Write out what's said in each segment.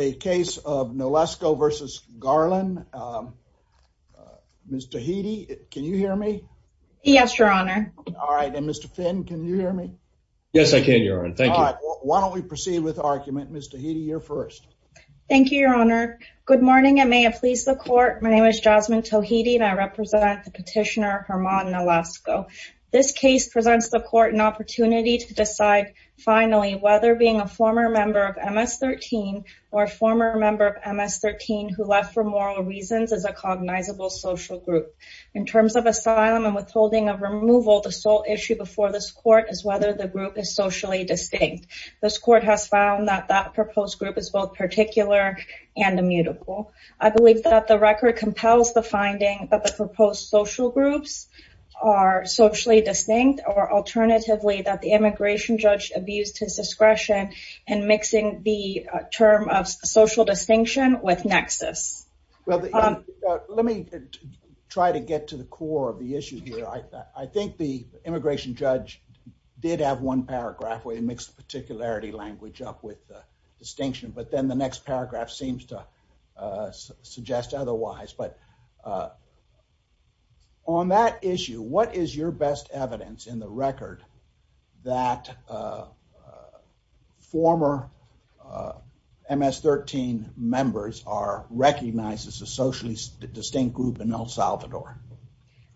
a case of Nolasco v. Garland. Mr. Tohidi, can you hear me? Yes, your honor. All right, and Mr. Finn, can you hear me? Yes, I can, your honor. Thank you. Why don't we proceed with argument. Mr. Tohidi, you're first. Thank you, your honor. Good morning and may it please the court. My name is Jasmine Tohidi and I represent the petitioner Hermann Nolasco. This case presents the court an opportunity to decide, finally, whether being a former member of MS-13 or a former member of MS-13 who left for moral reasons is a cognizable social group. In terms of asylum and withholding of removal, the sole issue before this court is whether the group is socially distinct. This court has found that that proposed group is both particular and immutable. I believe that the immigration judge abused his discretion in mixing the term of social distinction with nexus. Well, let me try to get to the core of the issue here. I think the immigration judge did have one paragraph where he mixed the particularity language up with the distinction, but then the next paragraph seems to suggest otherwise. But on that issue, what is your best evidence in the record that former MS-13 members are recognized as a socially distinct group in El Salvador?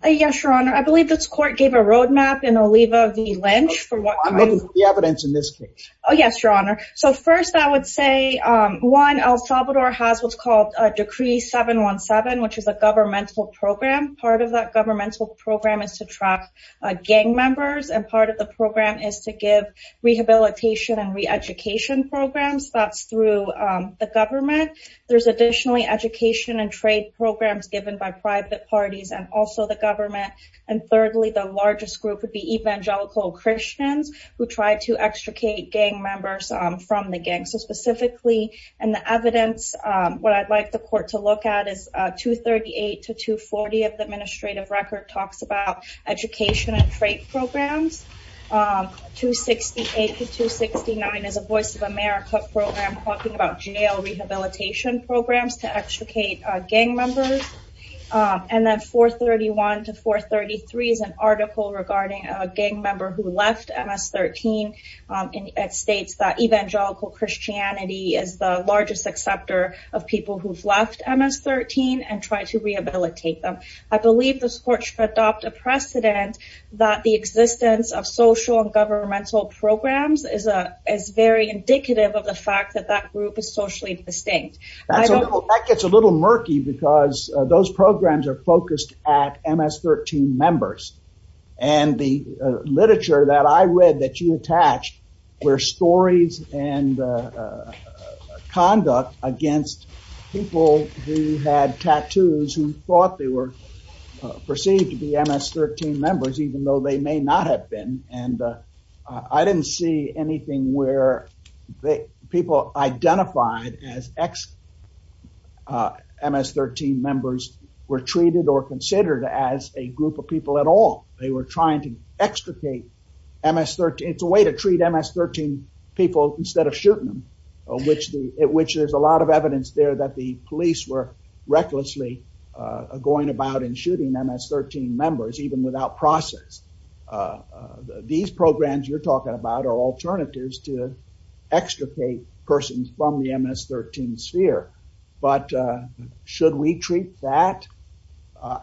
Yes, your honor. I believe this court gave a road map in Oliva v. Lynch for what evidence in this case. Yes, your honor. First, I would say El Salvador has what's called Decree 717, which is a governmental program. Part of that governmental program is to track gang members, and part of the program is to give rehabilitation and re-education programs. That's through the government. There's additionally education and trade programs given by private parties and also the government. Thirdly, the largest group would be evangelical Christians who try to extricate gang members from the gang. So specifically, in the evidence, what I'd like the court to look at is 238 to 240 of the administrative record talks about education and trade programs. 268 to 269 is a Voice of America program talking about jail rehabilitation programs to extricate gang members. And then 431 to 433 is an article regarding a gang member who MS-13 and states that evangelical Christianity is the largest acceptor of people who've left MS-13 and try to rehabilitate them. I believe this court should adopt a precedent that the existence of social and governmental programs is very indicative of the fact that that group is socially distinct. That gets a little murky because those programs are focused at MS-13 members. And the literature that I read that you attached were stories and conduct against people who had tattoos who thought they were perceived to be MS-13 members even though they may not have been. And I didn't see anything where people identified as ex-MS-13 members were treated or considered as a group of people at all. They were trying to extricate MS-13. It's a way to treat MS-13 people instead of shooting them, which there's a lot of evidence there that the police were recklessly going about in shooting MS-13 members even without process. These programs you're talking about are alternatives to extricate persons from the MS-13 sphere. But should we treat that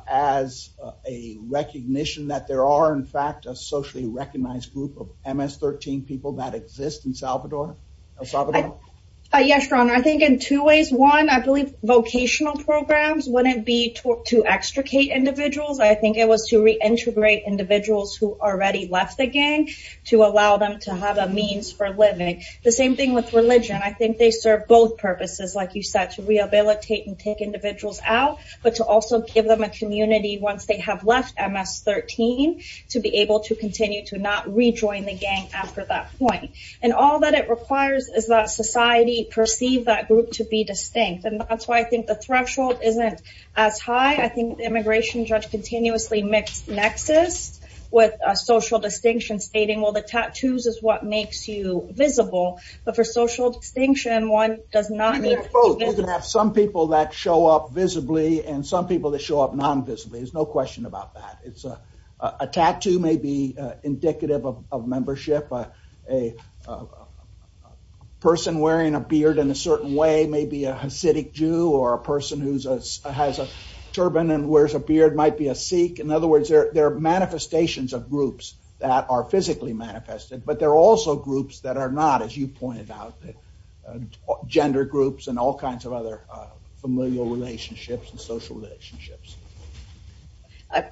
as a recognition that there are, in fact, a socially recognized group of MS-13 people that exist in El Salvador? Yes, Your Honor. I think in two ways. One, I believe vocational programs wouldn't be to extricate individuals. I think it was to reintegrate individuals who already left the gang to allow them to have a means for living. The same thing with religion. I think they serve both purposes, like you said, to rehabilitate and take individuals out, but to also give them a community once they have left MS-13 to be able to continue to not rejoin the gang after that point. And all that it requires is that society perceive that group to be distinct. And that's why I think the threshold isn't as high. I think the immigration judge continuously mixed nexus with a social distinction stating, well, the tattoos is what makes you visible. But for social distinction, one does not need... You can have some people that show up visibly and some people that show up non-visibly. There's no question about that. A tattoo may be indicative of membership. A person wearing a beard in a certain way may be a Hasidic Jew or a person who has a turban and wears a beard might be a Sikh. In other words, there are also groups that are not, as you pointed out, gender groups and all kinds of other familial relationships and social relationships.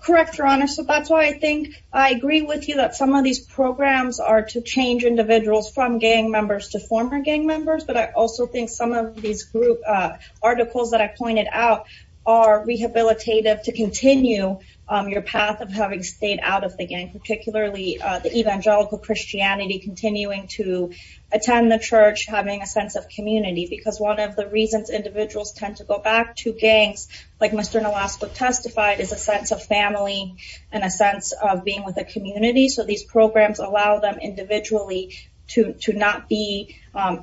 Correct, Your Honor. So that's why I think I agree with you that some of these programs are to change individuals from gang members to former gang members. But I also think some of these group articles that I pointed out are rehabilitative to continue your path of having stayed out of the gang, particularly the Christianity, continuing to attend the church, having a sense of community. Because one of the reasons individuals tend to go back to gangs, like Mr. Nolasco testified, is a sense of family and a sense of being with a community. So these programs allow them individually to not be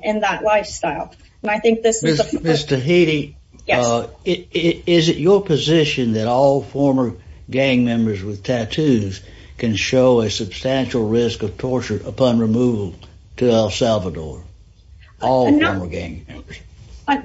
in that lifestyle. And I think this is... Ms. Tahiti, is it your position that all former gang members with tattoos can show a substantial risk of torture upon removal to El Salvador? All former gang members?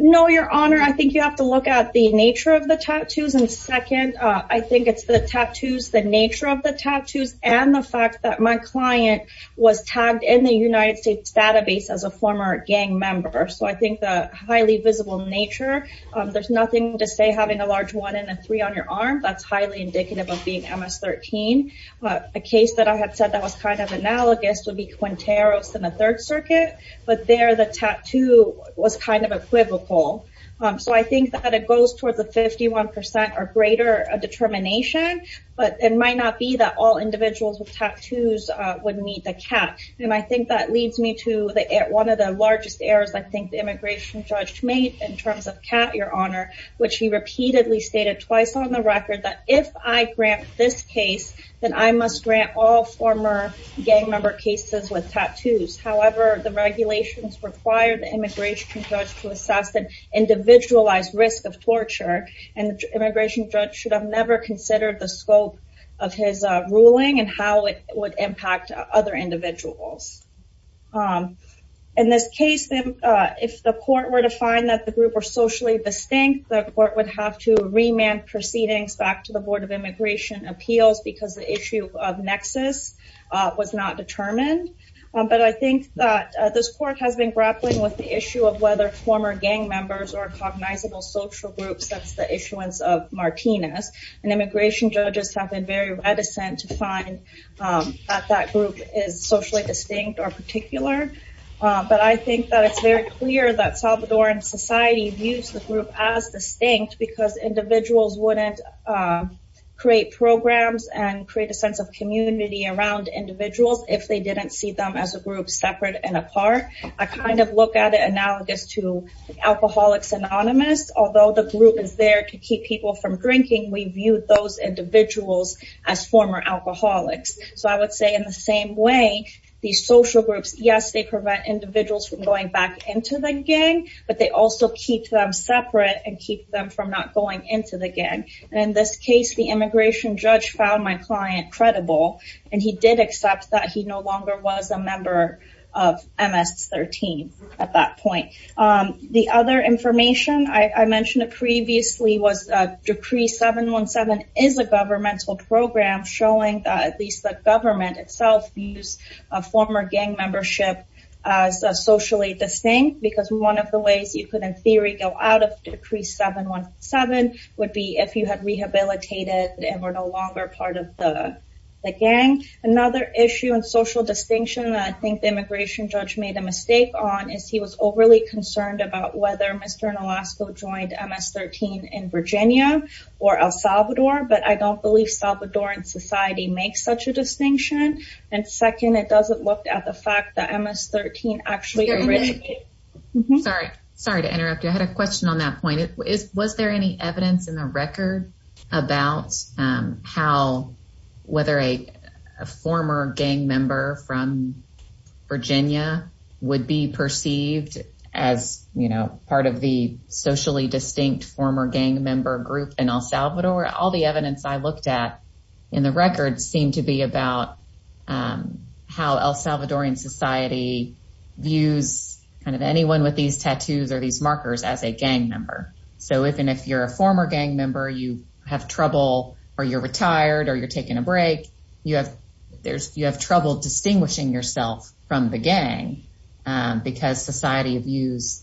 No, Your Honor, I think you have to look at the nature of the tattoos. And second, I think it's the tattoos, the nature of the tattoos, and the fact that my client was tagged in the United States database as a former gang member. So I think the highly visible nature, there's nothing to say having a large one and a three on your arm, that's highly indicative of being MS-13. A case that I had said that was kind of analogous would be Quinteros in the Third Circuit, but there the tattoo was kind of equivocal. So I think that it goes towards a 51 percent or greater determination, but it might not be that all individuals with tattoos would meet the cat. And I think that leads me to one of the largest errors I think the immigration judge made in terms of cat, Your Honor, which he repeatedly stated twice on the record that if I grant this case, then I must grant all former gang member cases with tattoos. However, the regulations require the immigration judge to assess an individualized risk of torture, and the immigration judge should have never considered the scope of his ruling and how it would impact other individuals. In this case, then, if the court were to find that the group were socially distinct, the court would have to remand proceedings back to the Board of Immigration Appeals because the issue of nexus was not determined. But I think that this court has been grappling with the issue of whether former gang members are cognizable social groups since the issuance of Martinez, and immigration judges have been very reticent to find that that group is socially distinct or particular. But I think that it's very clear that Salvadoran society views the group as distinct because individuals wouldn't create programs and create a sense of community around individuals if they didn't see them as a group separate and apart. I kind of look at it analogous to those individuals as former alcoholics. So I would say in the same way, these social groups, yes, they prevent individuals from going back into the gang, but they also keep them separate and keep them from not going into the gang. In this case, the immigration judge found my client credible, and he did accept that he no longer was a member of MS-13 at that point. The other is a governmental program showing that at least the government itself views a former gang membership as socially distinct because one of the ways you could, in theory, go out of Decree 717 would be if you had rehabilitated and were no longer part of the gang. Another issue in social distinction that I think the immigration judge made a mistake on is he was overly concerned about whether Mr. Nolasco joined MS-13 in Virginia or El Salvador, but I don't believe Salvadoran society makes such a distinction. And second, it doesn't look at the fact that MS-13 actually originated. Sorry to interrupt you. I had a question on that point. Was there any evidence in the record about whether a former gang member from Virginia would be perceived as part of the socially distinct former gang member group in El Salvador? All the evidence I looked at in the record seemed to be about how El Salvadoran society views anyone with these markings as a gang member. You have trouble or you're retired or you're taking a break. You have trouble distinguishing yourself from the gang because society views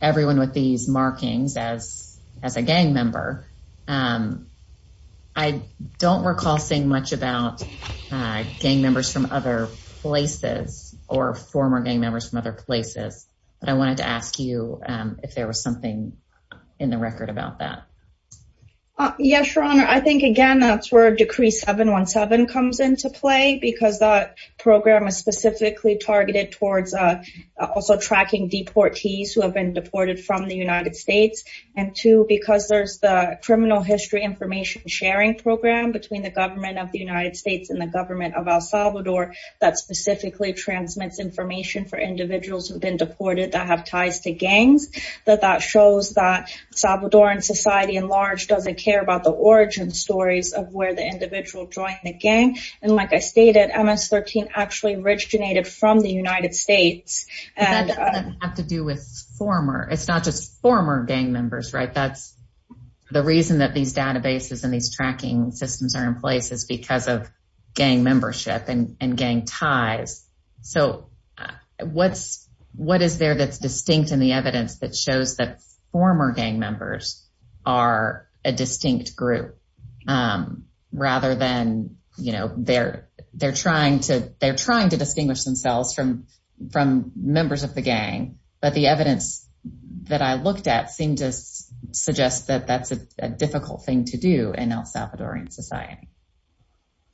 everyone with these markings as a gang member. I don't recall seeing much about gang members from other places or former gang members from other places, but I wanted to ask you if there was something in the record about that. Yes, Your Honor. I think again that's where Decree 717 comes into play because that program is specifically targeted towards also tracking deportees who have been deported from the United States. And two, because there's the criminal history information sharing program between the government of the United States and the government of El Salvador that specifically transmits information for individuals who've been deported that have ties to gangs. That shows that El Salvadoran society at large doesn't care about the origin stories of where the individual joined the gang. And like I stated, MS-13 actually originated from the United States. And that doesn't have to do with former. It's not just former gang members, right? That's the reason that these databases and these tracking systems are in place is because of evidence that shows that former gang members are a distinct group rather than, you know, they're trying to distinguish themselves from members of the gang. But the evidence that I looked at seemed to suggest that that's a difficult thing to do in El Salvadoran society.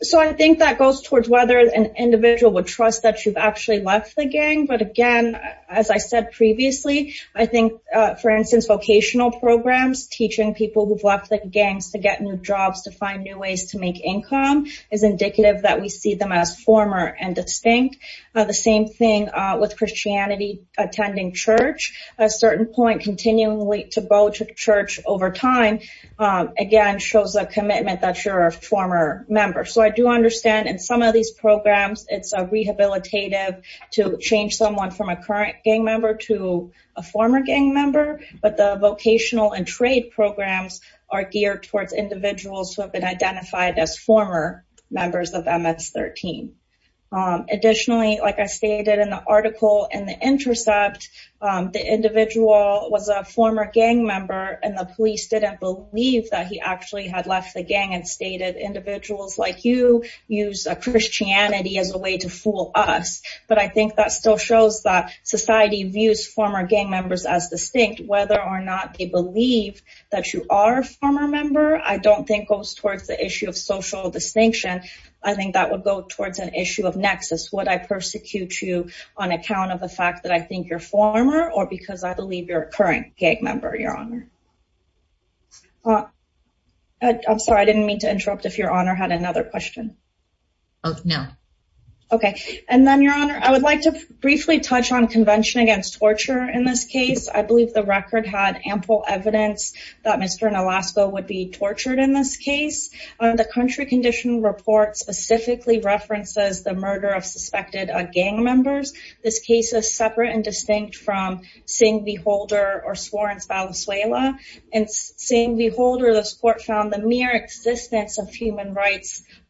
So I think that goes towards whether an individual would trust that you've actually left the gang. But again, as I said previously, I think, for instance, vocational programs, teaching people who've left the gangs to get new jobs, to find new ways to make income, is indicative that we see them as former and distinct. The same thing with Christianity, attending church, a certain point continually to go to church over time, again, shows a commitment that you're a former member. So I do understand in some of these programs, it's a rehabilitative change to change someone from a current gang member to a former gang member. But the vocational and trade programs are geared towards individuals who have been identified as former members of MS-13. Additionally, like I stated in the article in The Intercept, the individual was a former gang member and the police didn't believe that he actually had left the gang and stated individuals like you use Christianity as a way to fool us. But I think that still shows that society views former gang members as distinct, whether or not they believe that you are a former member, I don't think goes towards the issue of social distinction. I think that would go towards an issue of nexus. Would I persecute you on account of the fact that I think you're former or because I believe you're a current gang member, Your Honor? I'm sorry, I didn't mean to interrupt if Your Honor had another question. Oh, no. Okay. And then Your Honor, I would like to briefly touch on convention against torture in this case. I believe the record had ample evidence that Mr. Nolasco would be tortured in this case. The country condition report specifically references the murder of suspected gang members. This case is separate and distinct from Singh v. Holder or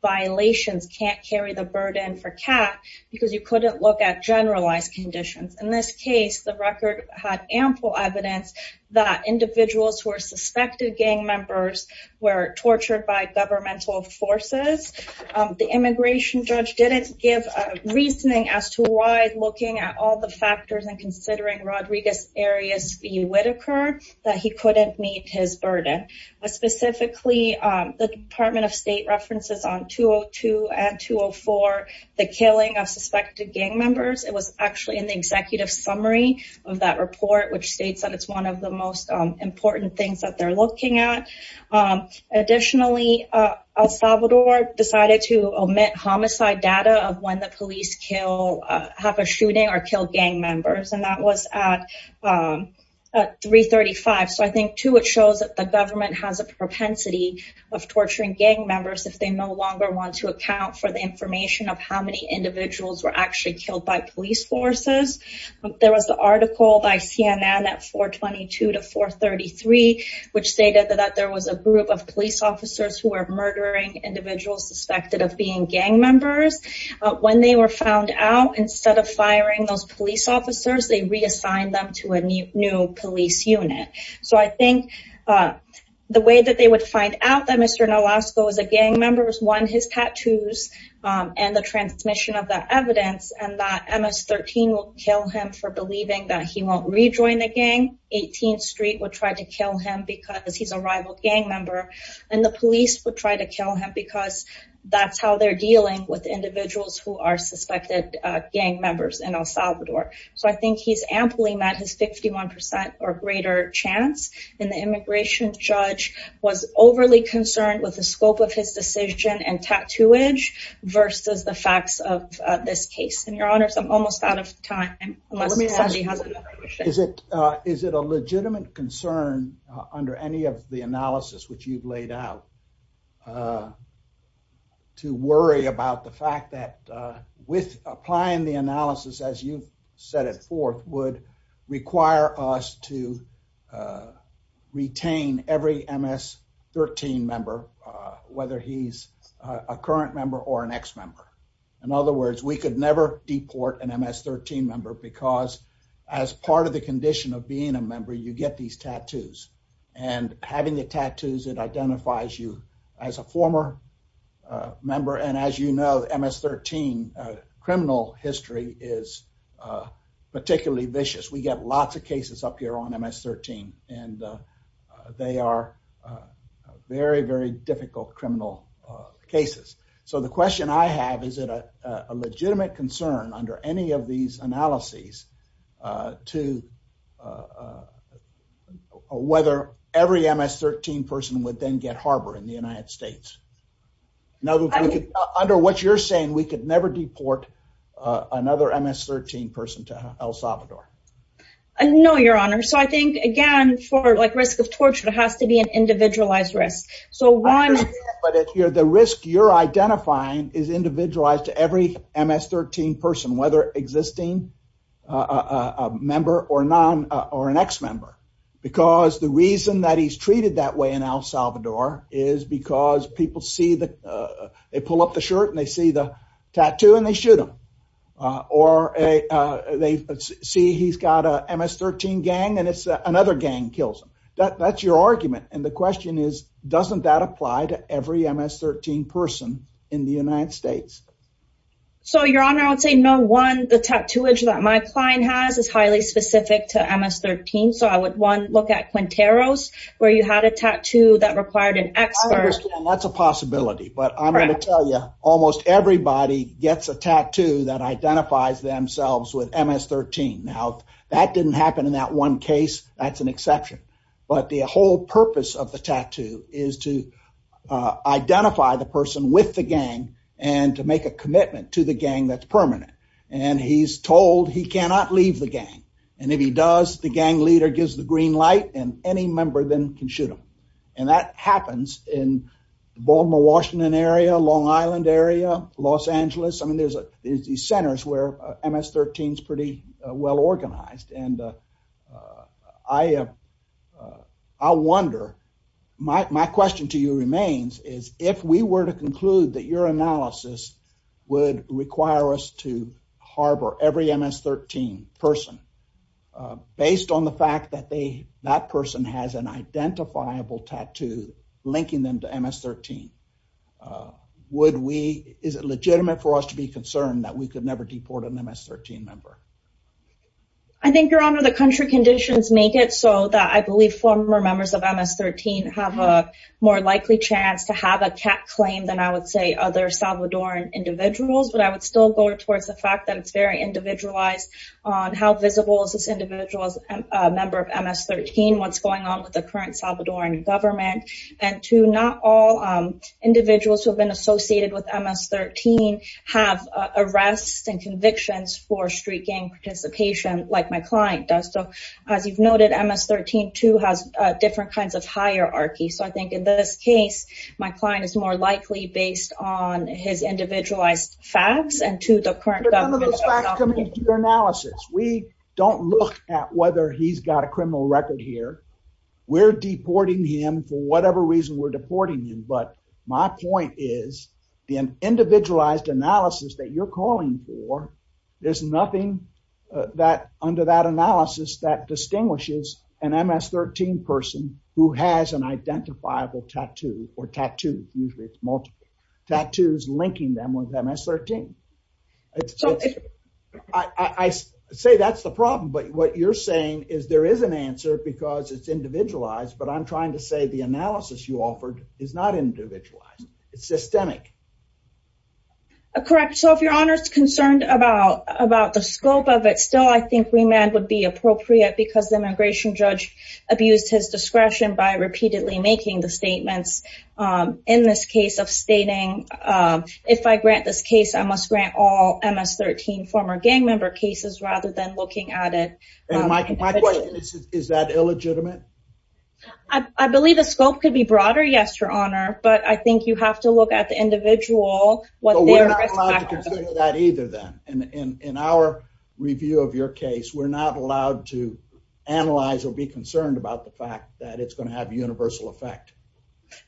violations can't carry the burden for Kat because you couldn't look at generalized conditions. In this case, the record had ample evidence that individuals who are suspected gang members were tortured by governmental forces. The immigration judge didn't give a reasoning as to why looking at all the factors and considering Rodriguez v. Whitaker that he couldn't meet his references on 202 and 204, the killing of suspected gang members. It was actually in the executive summary of that report, which states that it's one of the most important things that they're looking at. Additionally, El Salvador decided to omit homicide data of when the police have a shooting or kill gang members. And that was at 335. So I think too, it shows that the they no longer want to account for the information of how many individuals were actually killed by police forces. There was the article by CNN at 422 to 433, which stated that there was a group of police officers who were murdering individuals suspected of being gang members. When they were found out instead of firing those police officers, they reassigned them to a new police unit. So I members won his tattoos and the transmission of that evidence and that Ms. 13 will kill him for believing that he won't rejoin the gang. 18th Street would try to kill him because he's a rival gang member. And the police would try to kill him because that's how they're dealing with individuals who are suspected gang members in El Salvador. So I think he's amply met his 51% or greater chance. And the immigration judge was overly concerned with the scope of his decision and tattooage versus the facts of this case. And your honors, I'm almost out of time. Is it a legitimate concern under any of the analysis which you've laid out to worry about the fact that with applying the analysis as you've set it forth would require us to retain every Ms. 13 member, whether he's a current member or an ex member. In other words, we could never deport an Ms. 13 member because as part of the condition of being a member, you get these tattoos and having the tattoos that identifies you as a former member. And as you know, Ms. 13, criminal history is particularly vicious. We get lots of cases up here on Ms. 13 and they are very, very difficult criminal cases. So the question I have, is it a legitimate concern under any of these analyses to whether every Ms. 13 person would then get harbor in the United States? Now, under what you're saying, we could never deport another Ms. 13 person to El Salvador. No, your honor. So I think again, for like risk of torture, it has to be an individualized risk. But the risk you're identifying is individualized to every Ms. 13 person, whether existing a member or an ex member. Because the reason that he's treated that way in El Salvador is because people see the, they pull up the shirt and they see the tattoo and they shoot him. Or they see he's got a Ms. 13 gang and it's another gang kills him. That's your argument. And the question is, doesn't that apply to every Ms. 13 person in the United States? So your honor, I would say no one, the tattooage that my client has is highly specific to Ms. 13. So I would one at Quinteros, where you had a tattoo that required an expert. That's a possibility, but I'm going to tell you almost everybody gets a tattoo that identifies themselves with Ms. 13. Now that didn't happen in that one case. That's an exception. But the whole purpose of the tattoo is to identify the person with the gang and to make a commitment to the gang that's permanent. And he's told he cannot leave the gang. And if he does, the gang leader gives the green light and any member then can shoot him. And that happens in the Baltimore, Washington area, Long Island area, Los Angeles. I mean, there's these centers where Ms. 13 is pretty well organized. And I wonder, my question to you remains is if we were to conclude that your analysis would require us to harbor every Ms. 13 person based on the fact that they, that person has an identifiable tattoo linking them to Ms. 13, would we, is it legitimate for us to be concerned that we could never deport an Ms. 13 member? I think your honor, the country conditions make it so that I believe former members of Ms. 13 have a more likely chance to have a cat claim than I would say other Salvadoran individuals. But I would still go towards the fact that it's very individualized on how visible is this individual as a member of Ms. 13, what's going on with the current Salvadoran government and to not all individuals who have been associated with Ms. 13 have arrests and convictions for street gang participation like my client does. So as you've noted, Ms. 13 too has different kinds of higher hierarchy. So I think in this case, my client is more likely based on his individualized facts and to the current government. But none of those facts come into your analysis. We don't look at whether he's got a criminal record here. We're deporting him for whatever reason we're deporting him. But my point is the individualized analysis that you're calling for, there's nothing that under that analysis that distinguishes an Ms. 13 person who has an identifiable tattoo or tattoos. Usually it's multiple tattoos linking them with Ms. 13. I say that's the problem, but what you're saying is there is an answer because it's individualized, but I'm trying to say the analysis you offered is not individualized. It's systemic. Correct. So if your honor is concerned about the scope of it, still I think remand would be appropriate because the immigration judge abused his discretion by repeatedly making the statements in this case of stating, if I grant this case, I must grant all Ms. 13 former gang member cases rather than looking at it. And my question is, is that illegitimate? I believe the scope could be broader. Yes, your honor. But I think you have to look at the individual. But we're not allowed to consider that either then. In our review of your case, we're not allowed to analyze or be concerned about the fact that it's going to have a universal effect.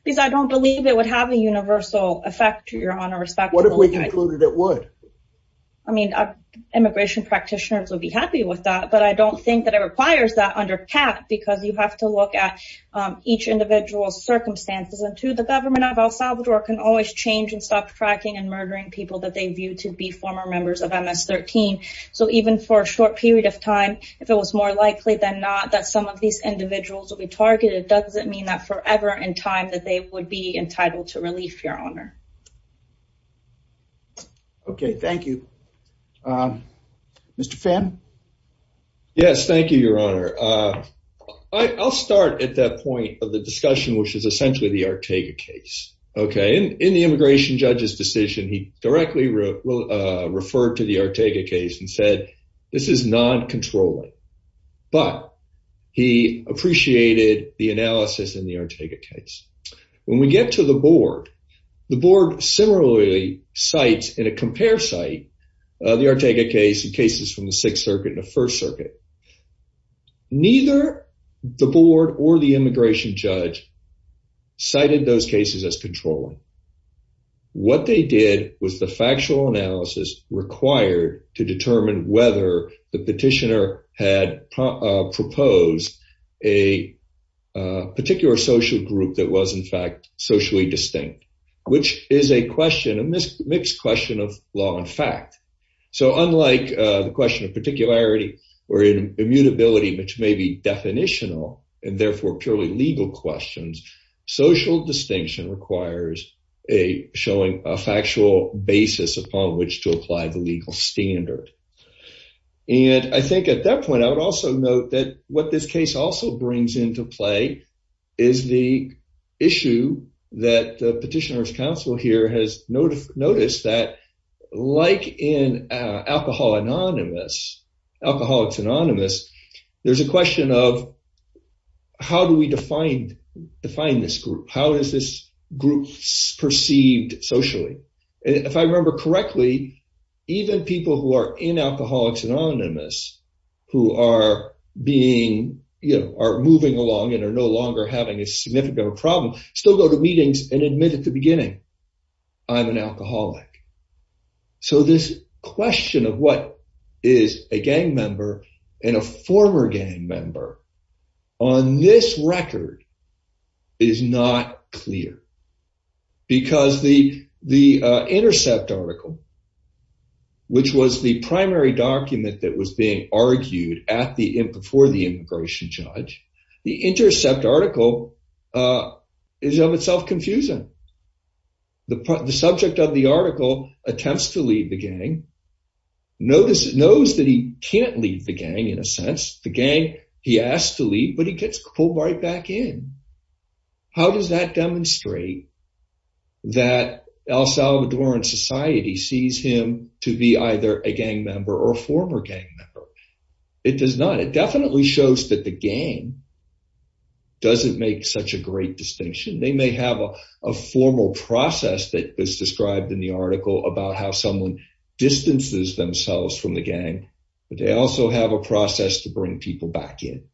Because I don't believe it would have a universal effect, your honor. What if we concluded it would? I mean, immigration practitioners would be happy with that, but I don't think that it requires that under CAP because you have to look at each individual's circumstances. And the government of El Salvador can always change and stop tracking and murdering people that they view to be former members of Ms. 13. So even for a short period of time, if it was more likely than not that some of these individuals will be targeted, it doesn't mean that forever in time that they would be entitled to relief, your honor. Okay, thank you. Mr. Pham? Yes, thank you, your honor. I'll start at that point of the discussion, which is essentially the Ortega case. Okay, in the immigration judge's decision, he directly referred to the Ortega case and said, this is non-controlling. But he appreciated the analysis in the Ortega case. When we get to the board, the board similarly cites in a compare site, the Ortega case and cases from the sixth circuit and the first circuit. Neither the board or the immigration judge cited those cases as controlling. What they did was the factual analysis required to determine whether the petitioner had proposed a particular social group that was in fact socially distinct, which is a question, a mixed question of law and fact. So unlike the question of particularity or immutability, which may be definitional and therefore purely legal questions, social distinction requires a showing a factual basis upon which to apply the legal standard. And I think at that point, I would also note that what this case also brings into play is the issue that the petitioner's counsel here has noticed that like in Alcoholics Anonymous, there's a question of how do we define this group? How is this group perceived socially? If I remember correctly, even people who are in Alcoholics Anonymous, who are moving along and are no longer having a significant problem, still go to meetings and admit at the beginning, I'm an alcoholic. So this question of what is a gang member and a former gang member on this record is not clear. Because the Intercept article, which was the primary document that was being argued before the immigration judge, the Intercept article is of itself confusing. The subject of the article attempts to leave the gang, knows that he can't leave the gang in a sense. The gang he asked to leave, but he gets pulled right back in. How does that demonstrate that El Salvadoran society sees him to be either a gang member or a former gang member? It does not. It definitely shows that the gang doesn't make such a great distinction. They may have a formal process that is described in the article about how someone distances themselves from the gang, but they also have a process to bring people back in.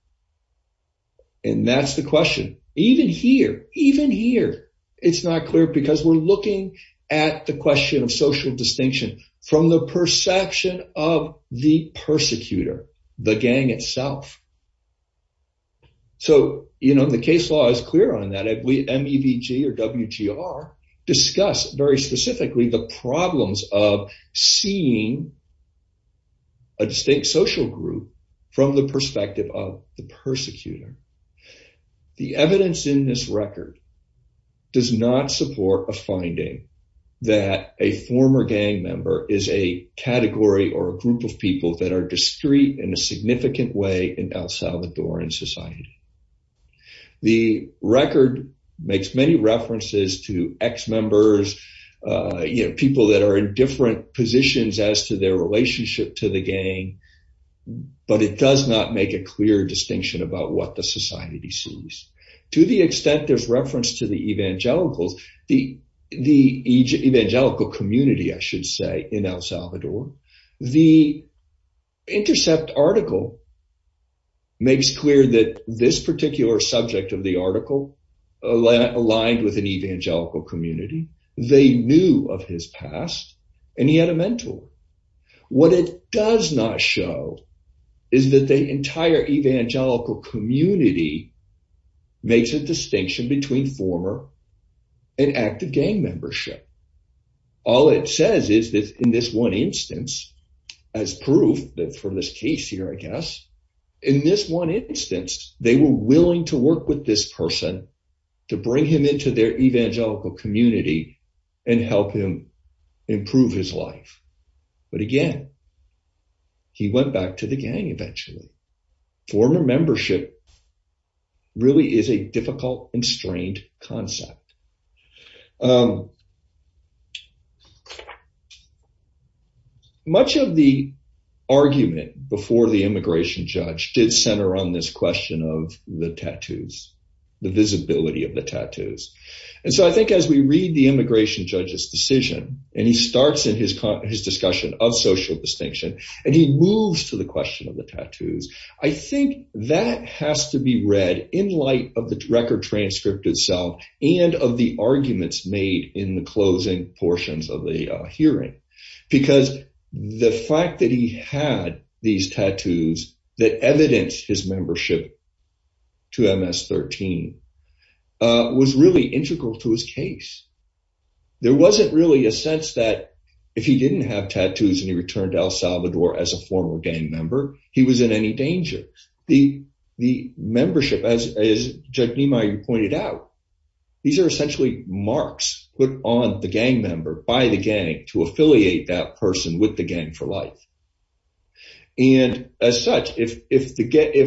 And that's the question. Even here, even here, it's not clear because we're looking at the question of social distinction from the perception of the persecutor, the gang itself. So, you know, the case law is clear on that. MEVG or WGR discuss very specifically the problems of seeing a distinct social group from the perspective of the persecutor. The evidence in this record does not support a finding that a former gang member is a category or a group of people that are discreet in a significant way in El Salvadoran society. The record makes many references to ex-members, you know, people that are in different positions as to their relationship to the gang, but it does not make a clear distinction about what the society sees. To the extent there's reference to the evangelicals, the evangelical community, I should say, in El Salvador, the Intercept article makes clear that this particular subject of the article aligned with an evangelical community. They knew of his past and he had a mentor. What it does not show is that the entire evangelical community makes a distinction between former and active gang membership. All it says is that in this one instance, as proof that for this case here, I guess, in this one instance, they were willing to work with this person to bring him into their evangelical community and help him improve his life. But again, he went back to the gang eventually. Former membership really is a difficult and strained concept. Much of the argument before the immigration judge did center on this question of the tattoos, the visibility of the tattoos. And so I think as we read the his discussion of social distinction, and he moves to the question of the tattoos, I think that has to be read in light of the record transcript itself and of the arguments made in the closing portions of the hearing. Because the fact that he had these tattoos that evidenced his and he returned to El Salvador as a former gang member, he was in any danger. The membership, as Judge Niemeyer pointed out, these are essentially marks put on the gang member by the gang to affiliate that person with the gang for life. And as such, if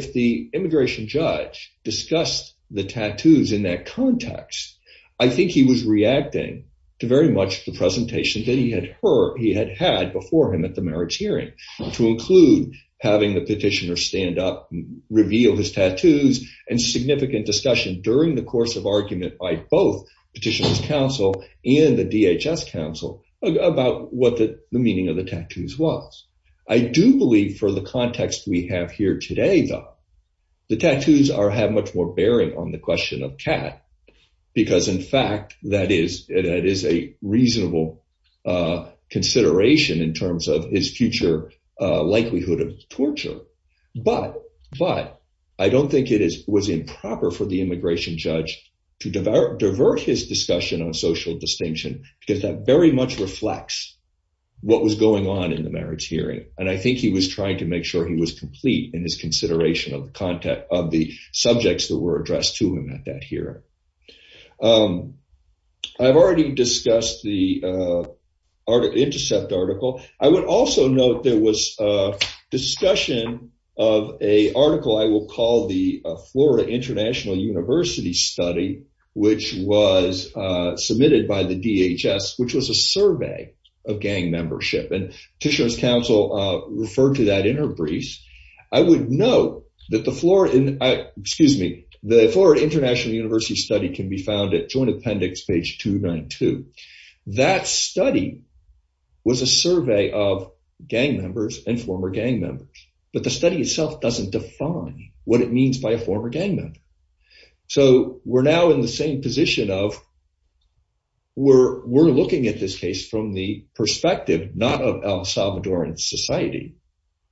the immigration judge discussed the tattoos in that context, I think he was reacting to very much the presentation that he had had before him at the marriage hearing, to include having the petitioner stand up, reveal his tattoos, and significant discussion during the course of argument by both Petitioner's Council and the DHS Council about what the meaning of the tattoos was. I do believe for the context we have here today, though, the tattoos have much more bearing on the question of Kat, because in fact, that is a reasonable consideration in terms of his future likelihood of torture. But I don't think it was improper for the immigration judge to divert his discussion on social distinction, because that very much reflects what was going on in the marriage hearing. And I think he was trying to make sure he was complete in his consideration of the subjects that were addressed to him at that hearing. I've already discussed the intercept article. I would also note there was a discussion of an article I will call the Florida International University Study, which was submitted by the DHS, which was a survey of gang membership, and Petitioner's Council referred to that in her briefs. I would note that the Florida International University Study can be found at Joint Appendix, page 292. That study was a survey of gang members and former gang members, but the study itself doesn't define what it means by a former gang member. So we're now in the same position of we're looking at this case from the perspective not of El Salvadoran society,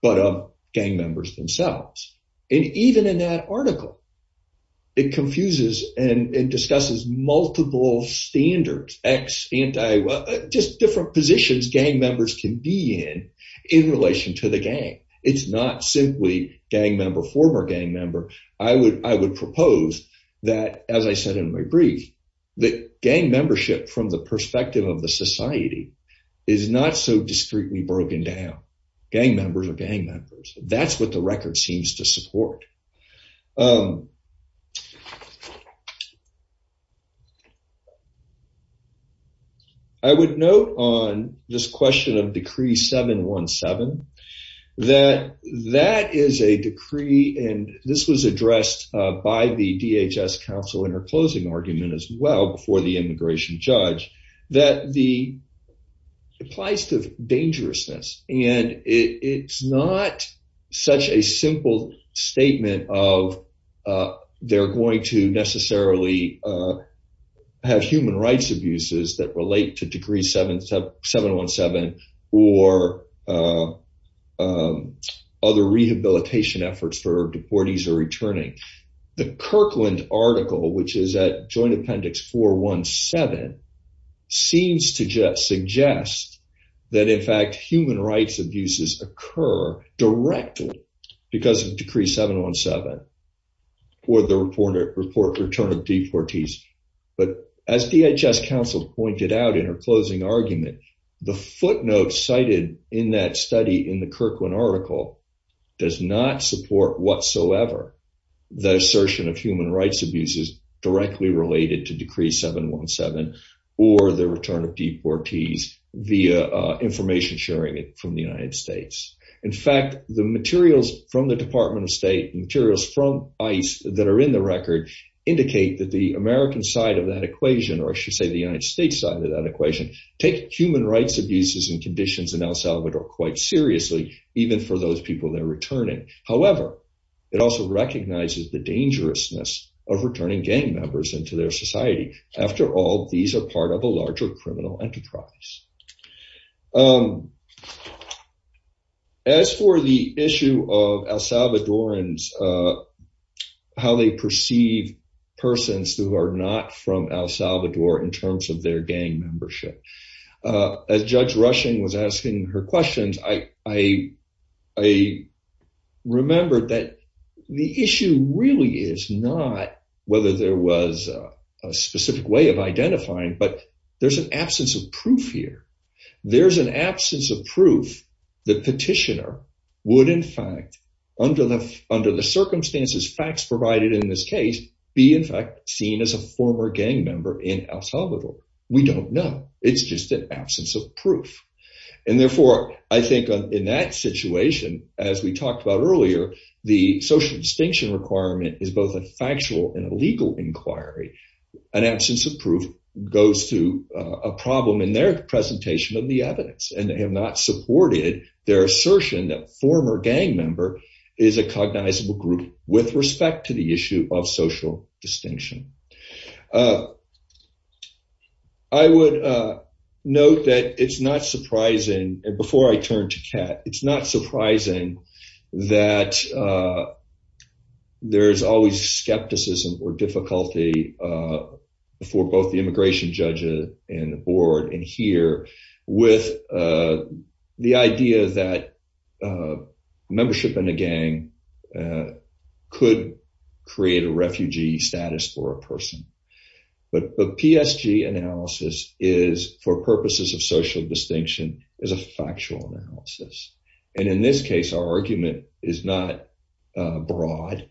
but of gang members themselves. And even in that article, it confuses and discusses multiple standards, just different positions gang members can be in in relation to the gang. It's not simply gang member, former gang member. I would propose that, as I said in my brief, that gang membership from the perspective of the society is not so discreetly broken down. Gang members are gang members. That's what the record seems to support. I would note on this question of Decree 717 that that is a decree, and this was counsel in her closing argument as well before the immigration judge, that the applies to dangerousness. And it's not such a simple statement of they're going to necessarily have human rights abuses that relate to Degree 717 or other rehabilitation efforts for deportees are returning. The Kirkland article, which is at Joint Appendix 417, seems to suggest that, in fact, human rights abuses occur directly because of Decree 717 or the report return of deportees. But as DHS counsel pointed out in her closing argument, the footnote cited in that study in Kirkland article does not support whatsoever the assertion of human rights abuses directly related to Decree 717 or the return of deportees via information sharing from the United States. In fact, the materials from the Department of State, materials from ICE that are in the record, indicate that the American side of that equation, or I should say the United States side of that even for those people they're returning. However, it also recognizes the dangerousness of returning gang members into their society. After all, these are part of a larger criminal enterprise. As for the issue of El Salvadorans, how they perceive persons who are not from El Salvador. I remembered that the issue really is not whether there was a specific way of identifying, but there's an absence of proof here. There's an absence of proof that petitioner would, in fact, under the circumstances, facts provided in this case, be, in fact, seen as a former gang member in El Salvador. We don't know. It's just an absence of proof. Therefore, I think in that situation, as we talked about earlier, the social distinction requirement is both a factual and a legal inquiry. An absence of proof goes to a problem in their presentation of the evidence, and they have not supported their assertion that former gang member is a cognizable group with respect to the issue of social distinction. I would note that it's not surprising, before I turn to Kat, it's not surprising that there's always skepticism or difficulty for both the immigration judge and the board in here with the idea that membership in a gang could create a refugee status for a person. But the PSG analysis is, for purposes of social distinction, is a factual analysis. And in this case, our argument is not broad.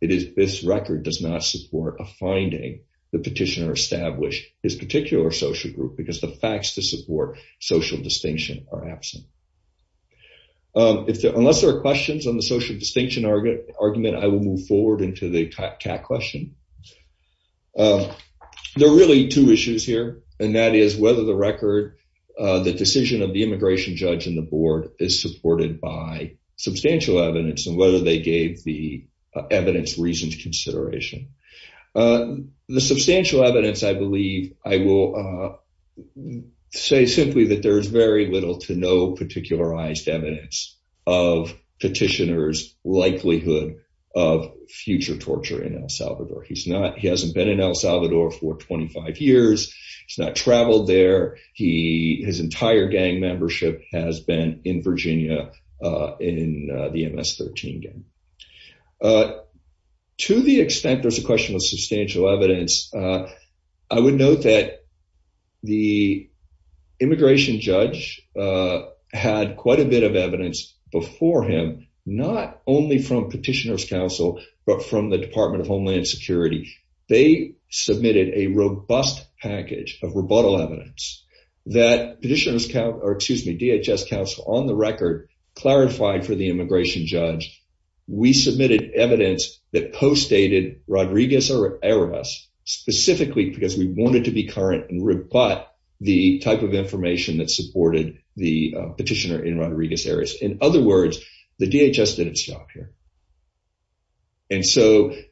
This record does not support a finding the petitioner established his particular social group because the facts to support social distinction are absent. Unless there are social distinction arguments, I will move forward into the Kat question. There are really two issues here, and that is whether the record, the decision of the immigration judge and the board is supported by substantial evidence and whether they gave the evidence reasoned consideration. The substantial evidence, I believe, I will say simply that there is very to no particularized evidence of petitioner's likelihood of future torture in El Salvador. He hasn't been in El Salvador for 25 years. He's not traveled there. His entire gang membership has been in Virginia in the MS-13 gang. To the extent there's a question of substantial evidence, I would note that the immigration judge had quite a bit of evidence before him, not only from petitioner's counsel, but from the Department of Homeland Security. They submitted a robust package of rebuttal evidence that petitioner's counsel, or excuse me, DHS counsel on the record clarified for the immigration judge. We submitted evidence that postdated Rodriguez-Arias specifically because we wanted to be current and rebut the type of information that supported the petitioner in Rodriguez-Arias. In other words, the DHS didn't stop here.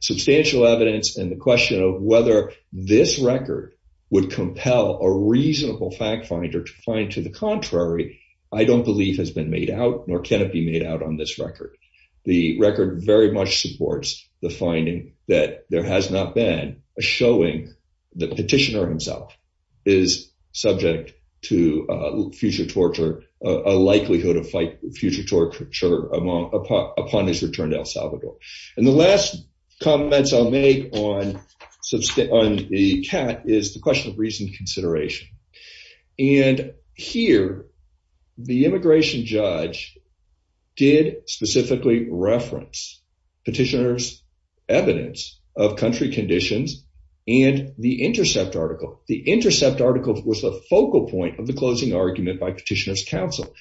Substantial evidence and the question of whether this record would compel a reasonable fact finder to find to the contrary, I don't believe has been made out nor can it be made out on this record. The record very much supports the finding that there has not been a showing that petitioner himself is subject to future torture, a likelihood of future torture upon his return to El Salvador. The last comments I'll make on the CAT is the question of consideration. And here, the immigration judge did specifically reference petitioner's evidence of country conditions and the intercept article. The intercept article was the focal point of the closing argument by petitioner's counsel.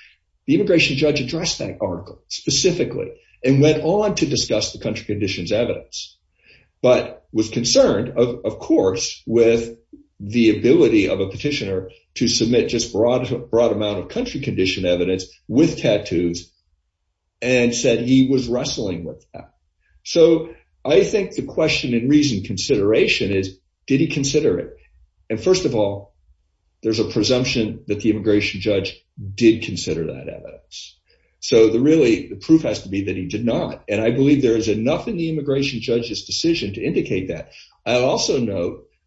The immigration judge addressed that article specifically and went on to discuss the country conditions evidence, but was concerned of course with the ability of a petitioner to submit just broad amount of country condition evidence with tattoos and said he was wrestling with that. So I think the question in reason consideration is, did he consider it? And first of all, there's a presumption that the immigration judge did consider that evidence. So the really, the proof has to be that he did not. And I believe there is enough in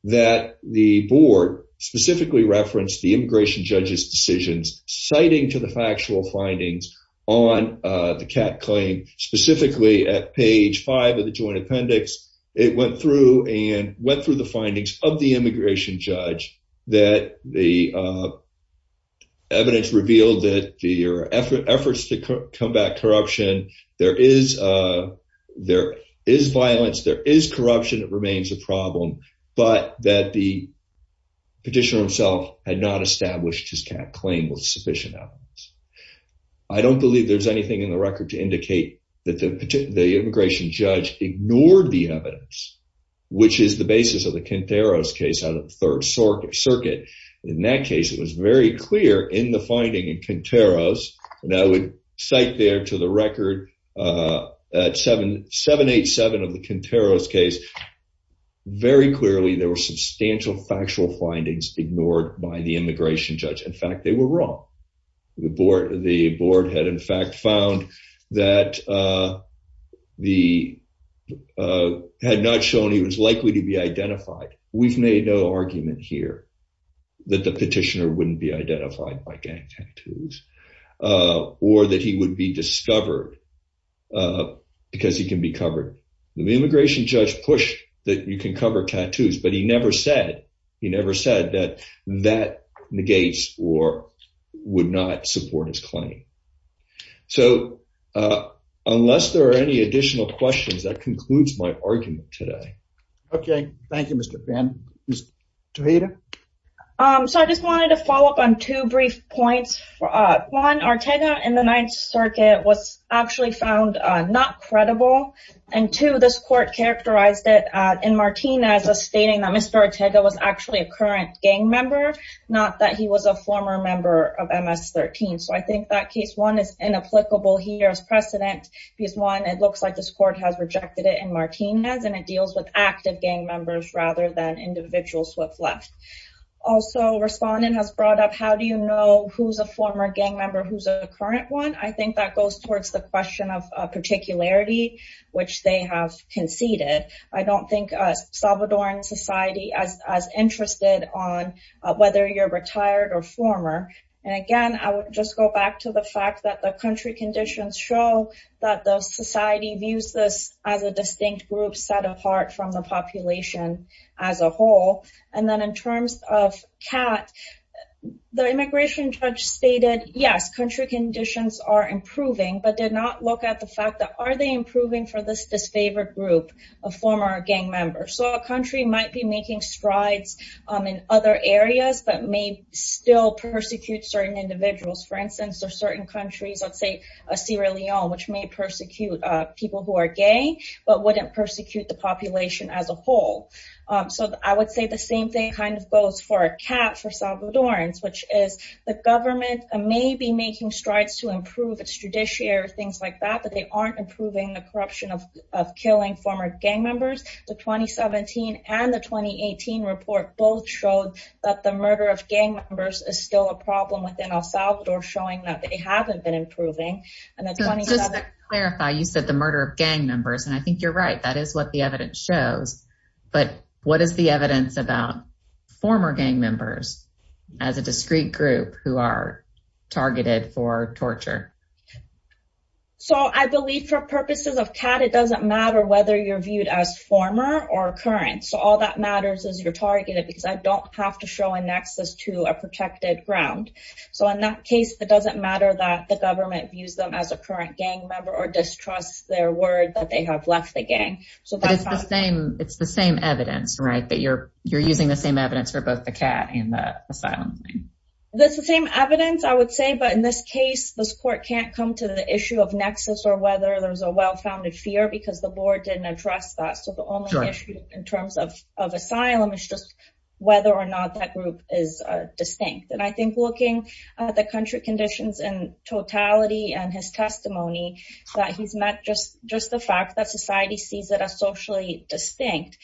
that the board specifically referenced the immigration judge's decisions citing to the factual findings on the CAT claim, specifically at page five of the joint appendix. It went through and went through the findings of the immigration judge that the evidence revealed that their efforts to combat corruption, there is violence, there is corruption, it remains a problem. But that the petitioner himself had not established his CAT claim was sufficient evidence. I don't believe there's anything in the record to indicate that the immigration judge ignored the evidence, which is the basis of the Quinteros case out of the Third Circuit. In that case, it was very clear in the finding in Quinteros, and I would cite there to the record at 787 of the very clearly there were substantial factual findings ignored by the immigration judge. In fact, they were wrong. The board had in fact found that the, had not shown he was likely to be identified. We've made no argument here that the petitioner wouldn't be identified by gang tattoos or that he would be discovered because he can be covered. The immigration judge pushed that you can cover tattoos, but he never said, he never said that that negates or would not support his claim. So, unless there are any additional questions, that concludes my argument today. Okay. Thank you, Mr. Fanning. Ms. Toheda? Um, so I just wanted to follow up on two brief points. One, Ortega in the Ninth Circuit was actually found not credible. And two, this court characterized it in Martinez as stating that Mr. Ortega was actually a current gang member, not that he was a former member of MS-13. So, I think that case one is inapplicable here as precedent because one, it looks like this court has rejected it in Martinez and it deals with active gang members rather than individuals who have left. Also, respondent has brought up, how do you know who's a former gang member, who's a current one? I think that goes towards the question of particularity, which they have conceded. I don't think a Salvadoran society as interested on whether you're retired or former. And again, I would just go back to the fact that the country conditions show that the society views this as a distinct group set apart from the population as a whole. And then in terms of CAT, the immigration judge stated, yes, country conditions are improving, but did not look at the fact that are they improving for this disfavored group of former gang members? So, a country might be making strides in other areas, but may still persecute certain individuals. For instance, there are certain countries, let's say Sierra Leone, which may persecute people who are gay, but wouldn't persecute the population as a whole. So, I would say the same thing kind of goes for a CAT for Salvadorans, which is the government may be making strides to improve its judiciary or things like that, but they aren't improving the corruption of killing former gang members. The 2017 and the 2018 report both showed that the murder of gang members is still a problem within El Salvador showing that they haven't been improving. Just to clarify, you said the murder of gang members, and I think you're right. That is what the evidence shows, but what is the evidence about former gang members as a discrete group who are targeted for torture? So, I believe for purposes of CAT, it doesn't matter whether you're viewed as former or current. So, all that matters is you're targeted because I don't have to show a protected ground. So, in that case, it doesn't matter that the government views them as a current gang member or distrusts their word that they have left the gang. But it's the same evidence, right? That you're using the same evidence for both the CAT and the asylum. That's the same evidence, I would say, but in this case, this court can't come to the issue of nexus or whether there's a well-founded fear because the board didn't address that. So, the only issue in terms of asylum is just whether or not that group is distinct. And I think looking at the country conditions in totality and his testimony, that he's met just the fact that society sees it as socially distinct.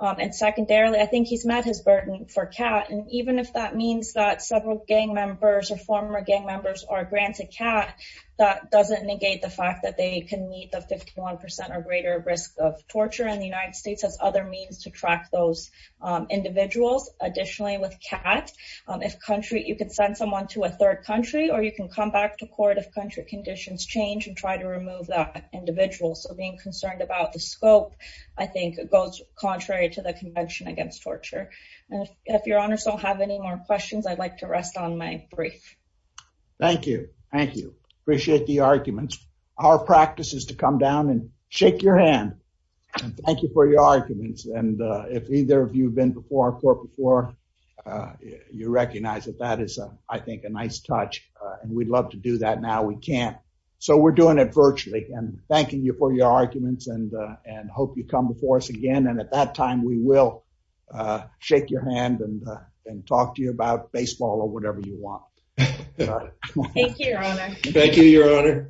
And secondarily, I think he's met his burden for CAT. And even if that means that several gang members or former gang members are granted CAT, that doesn't negate the fact that they can meet the 51% or greater risk of torture. And the United States has other means to track those individuals. Additionally, with CAT, if country, you could send someone to a third country or you can come back to court if country conditions change and try to remove that individual. So, being concerned about the scope, I think, goes contrary to the convention against torture. And if your honors don't have any more questions, I'd like to rest on my brief. Thank you. Thank you. Appreciate the arguments. Our practice is to come down and shake your hand and thank you for your arguments. And if either of you have been before our court before, you recognize that that is, I think, a nice touch. And we'd love to do that now. We can't. So, we're doing it virtually and thanking you for your arguments and hope you come before us again. And at that time, we will shake your hand and talk to you about baseball or whatever you want. Thank you, your honor. Thank you, your honor.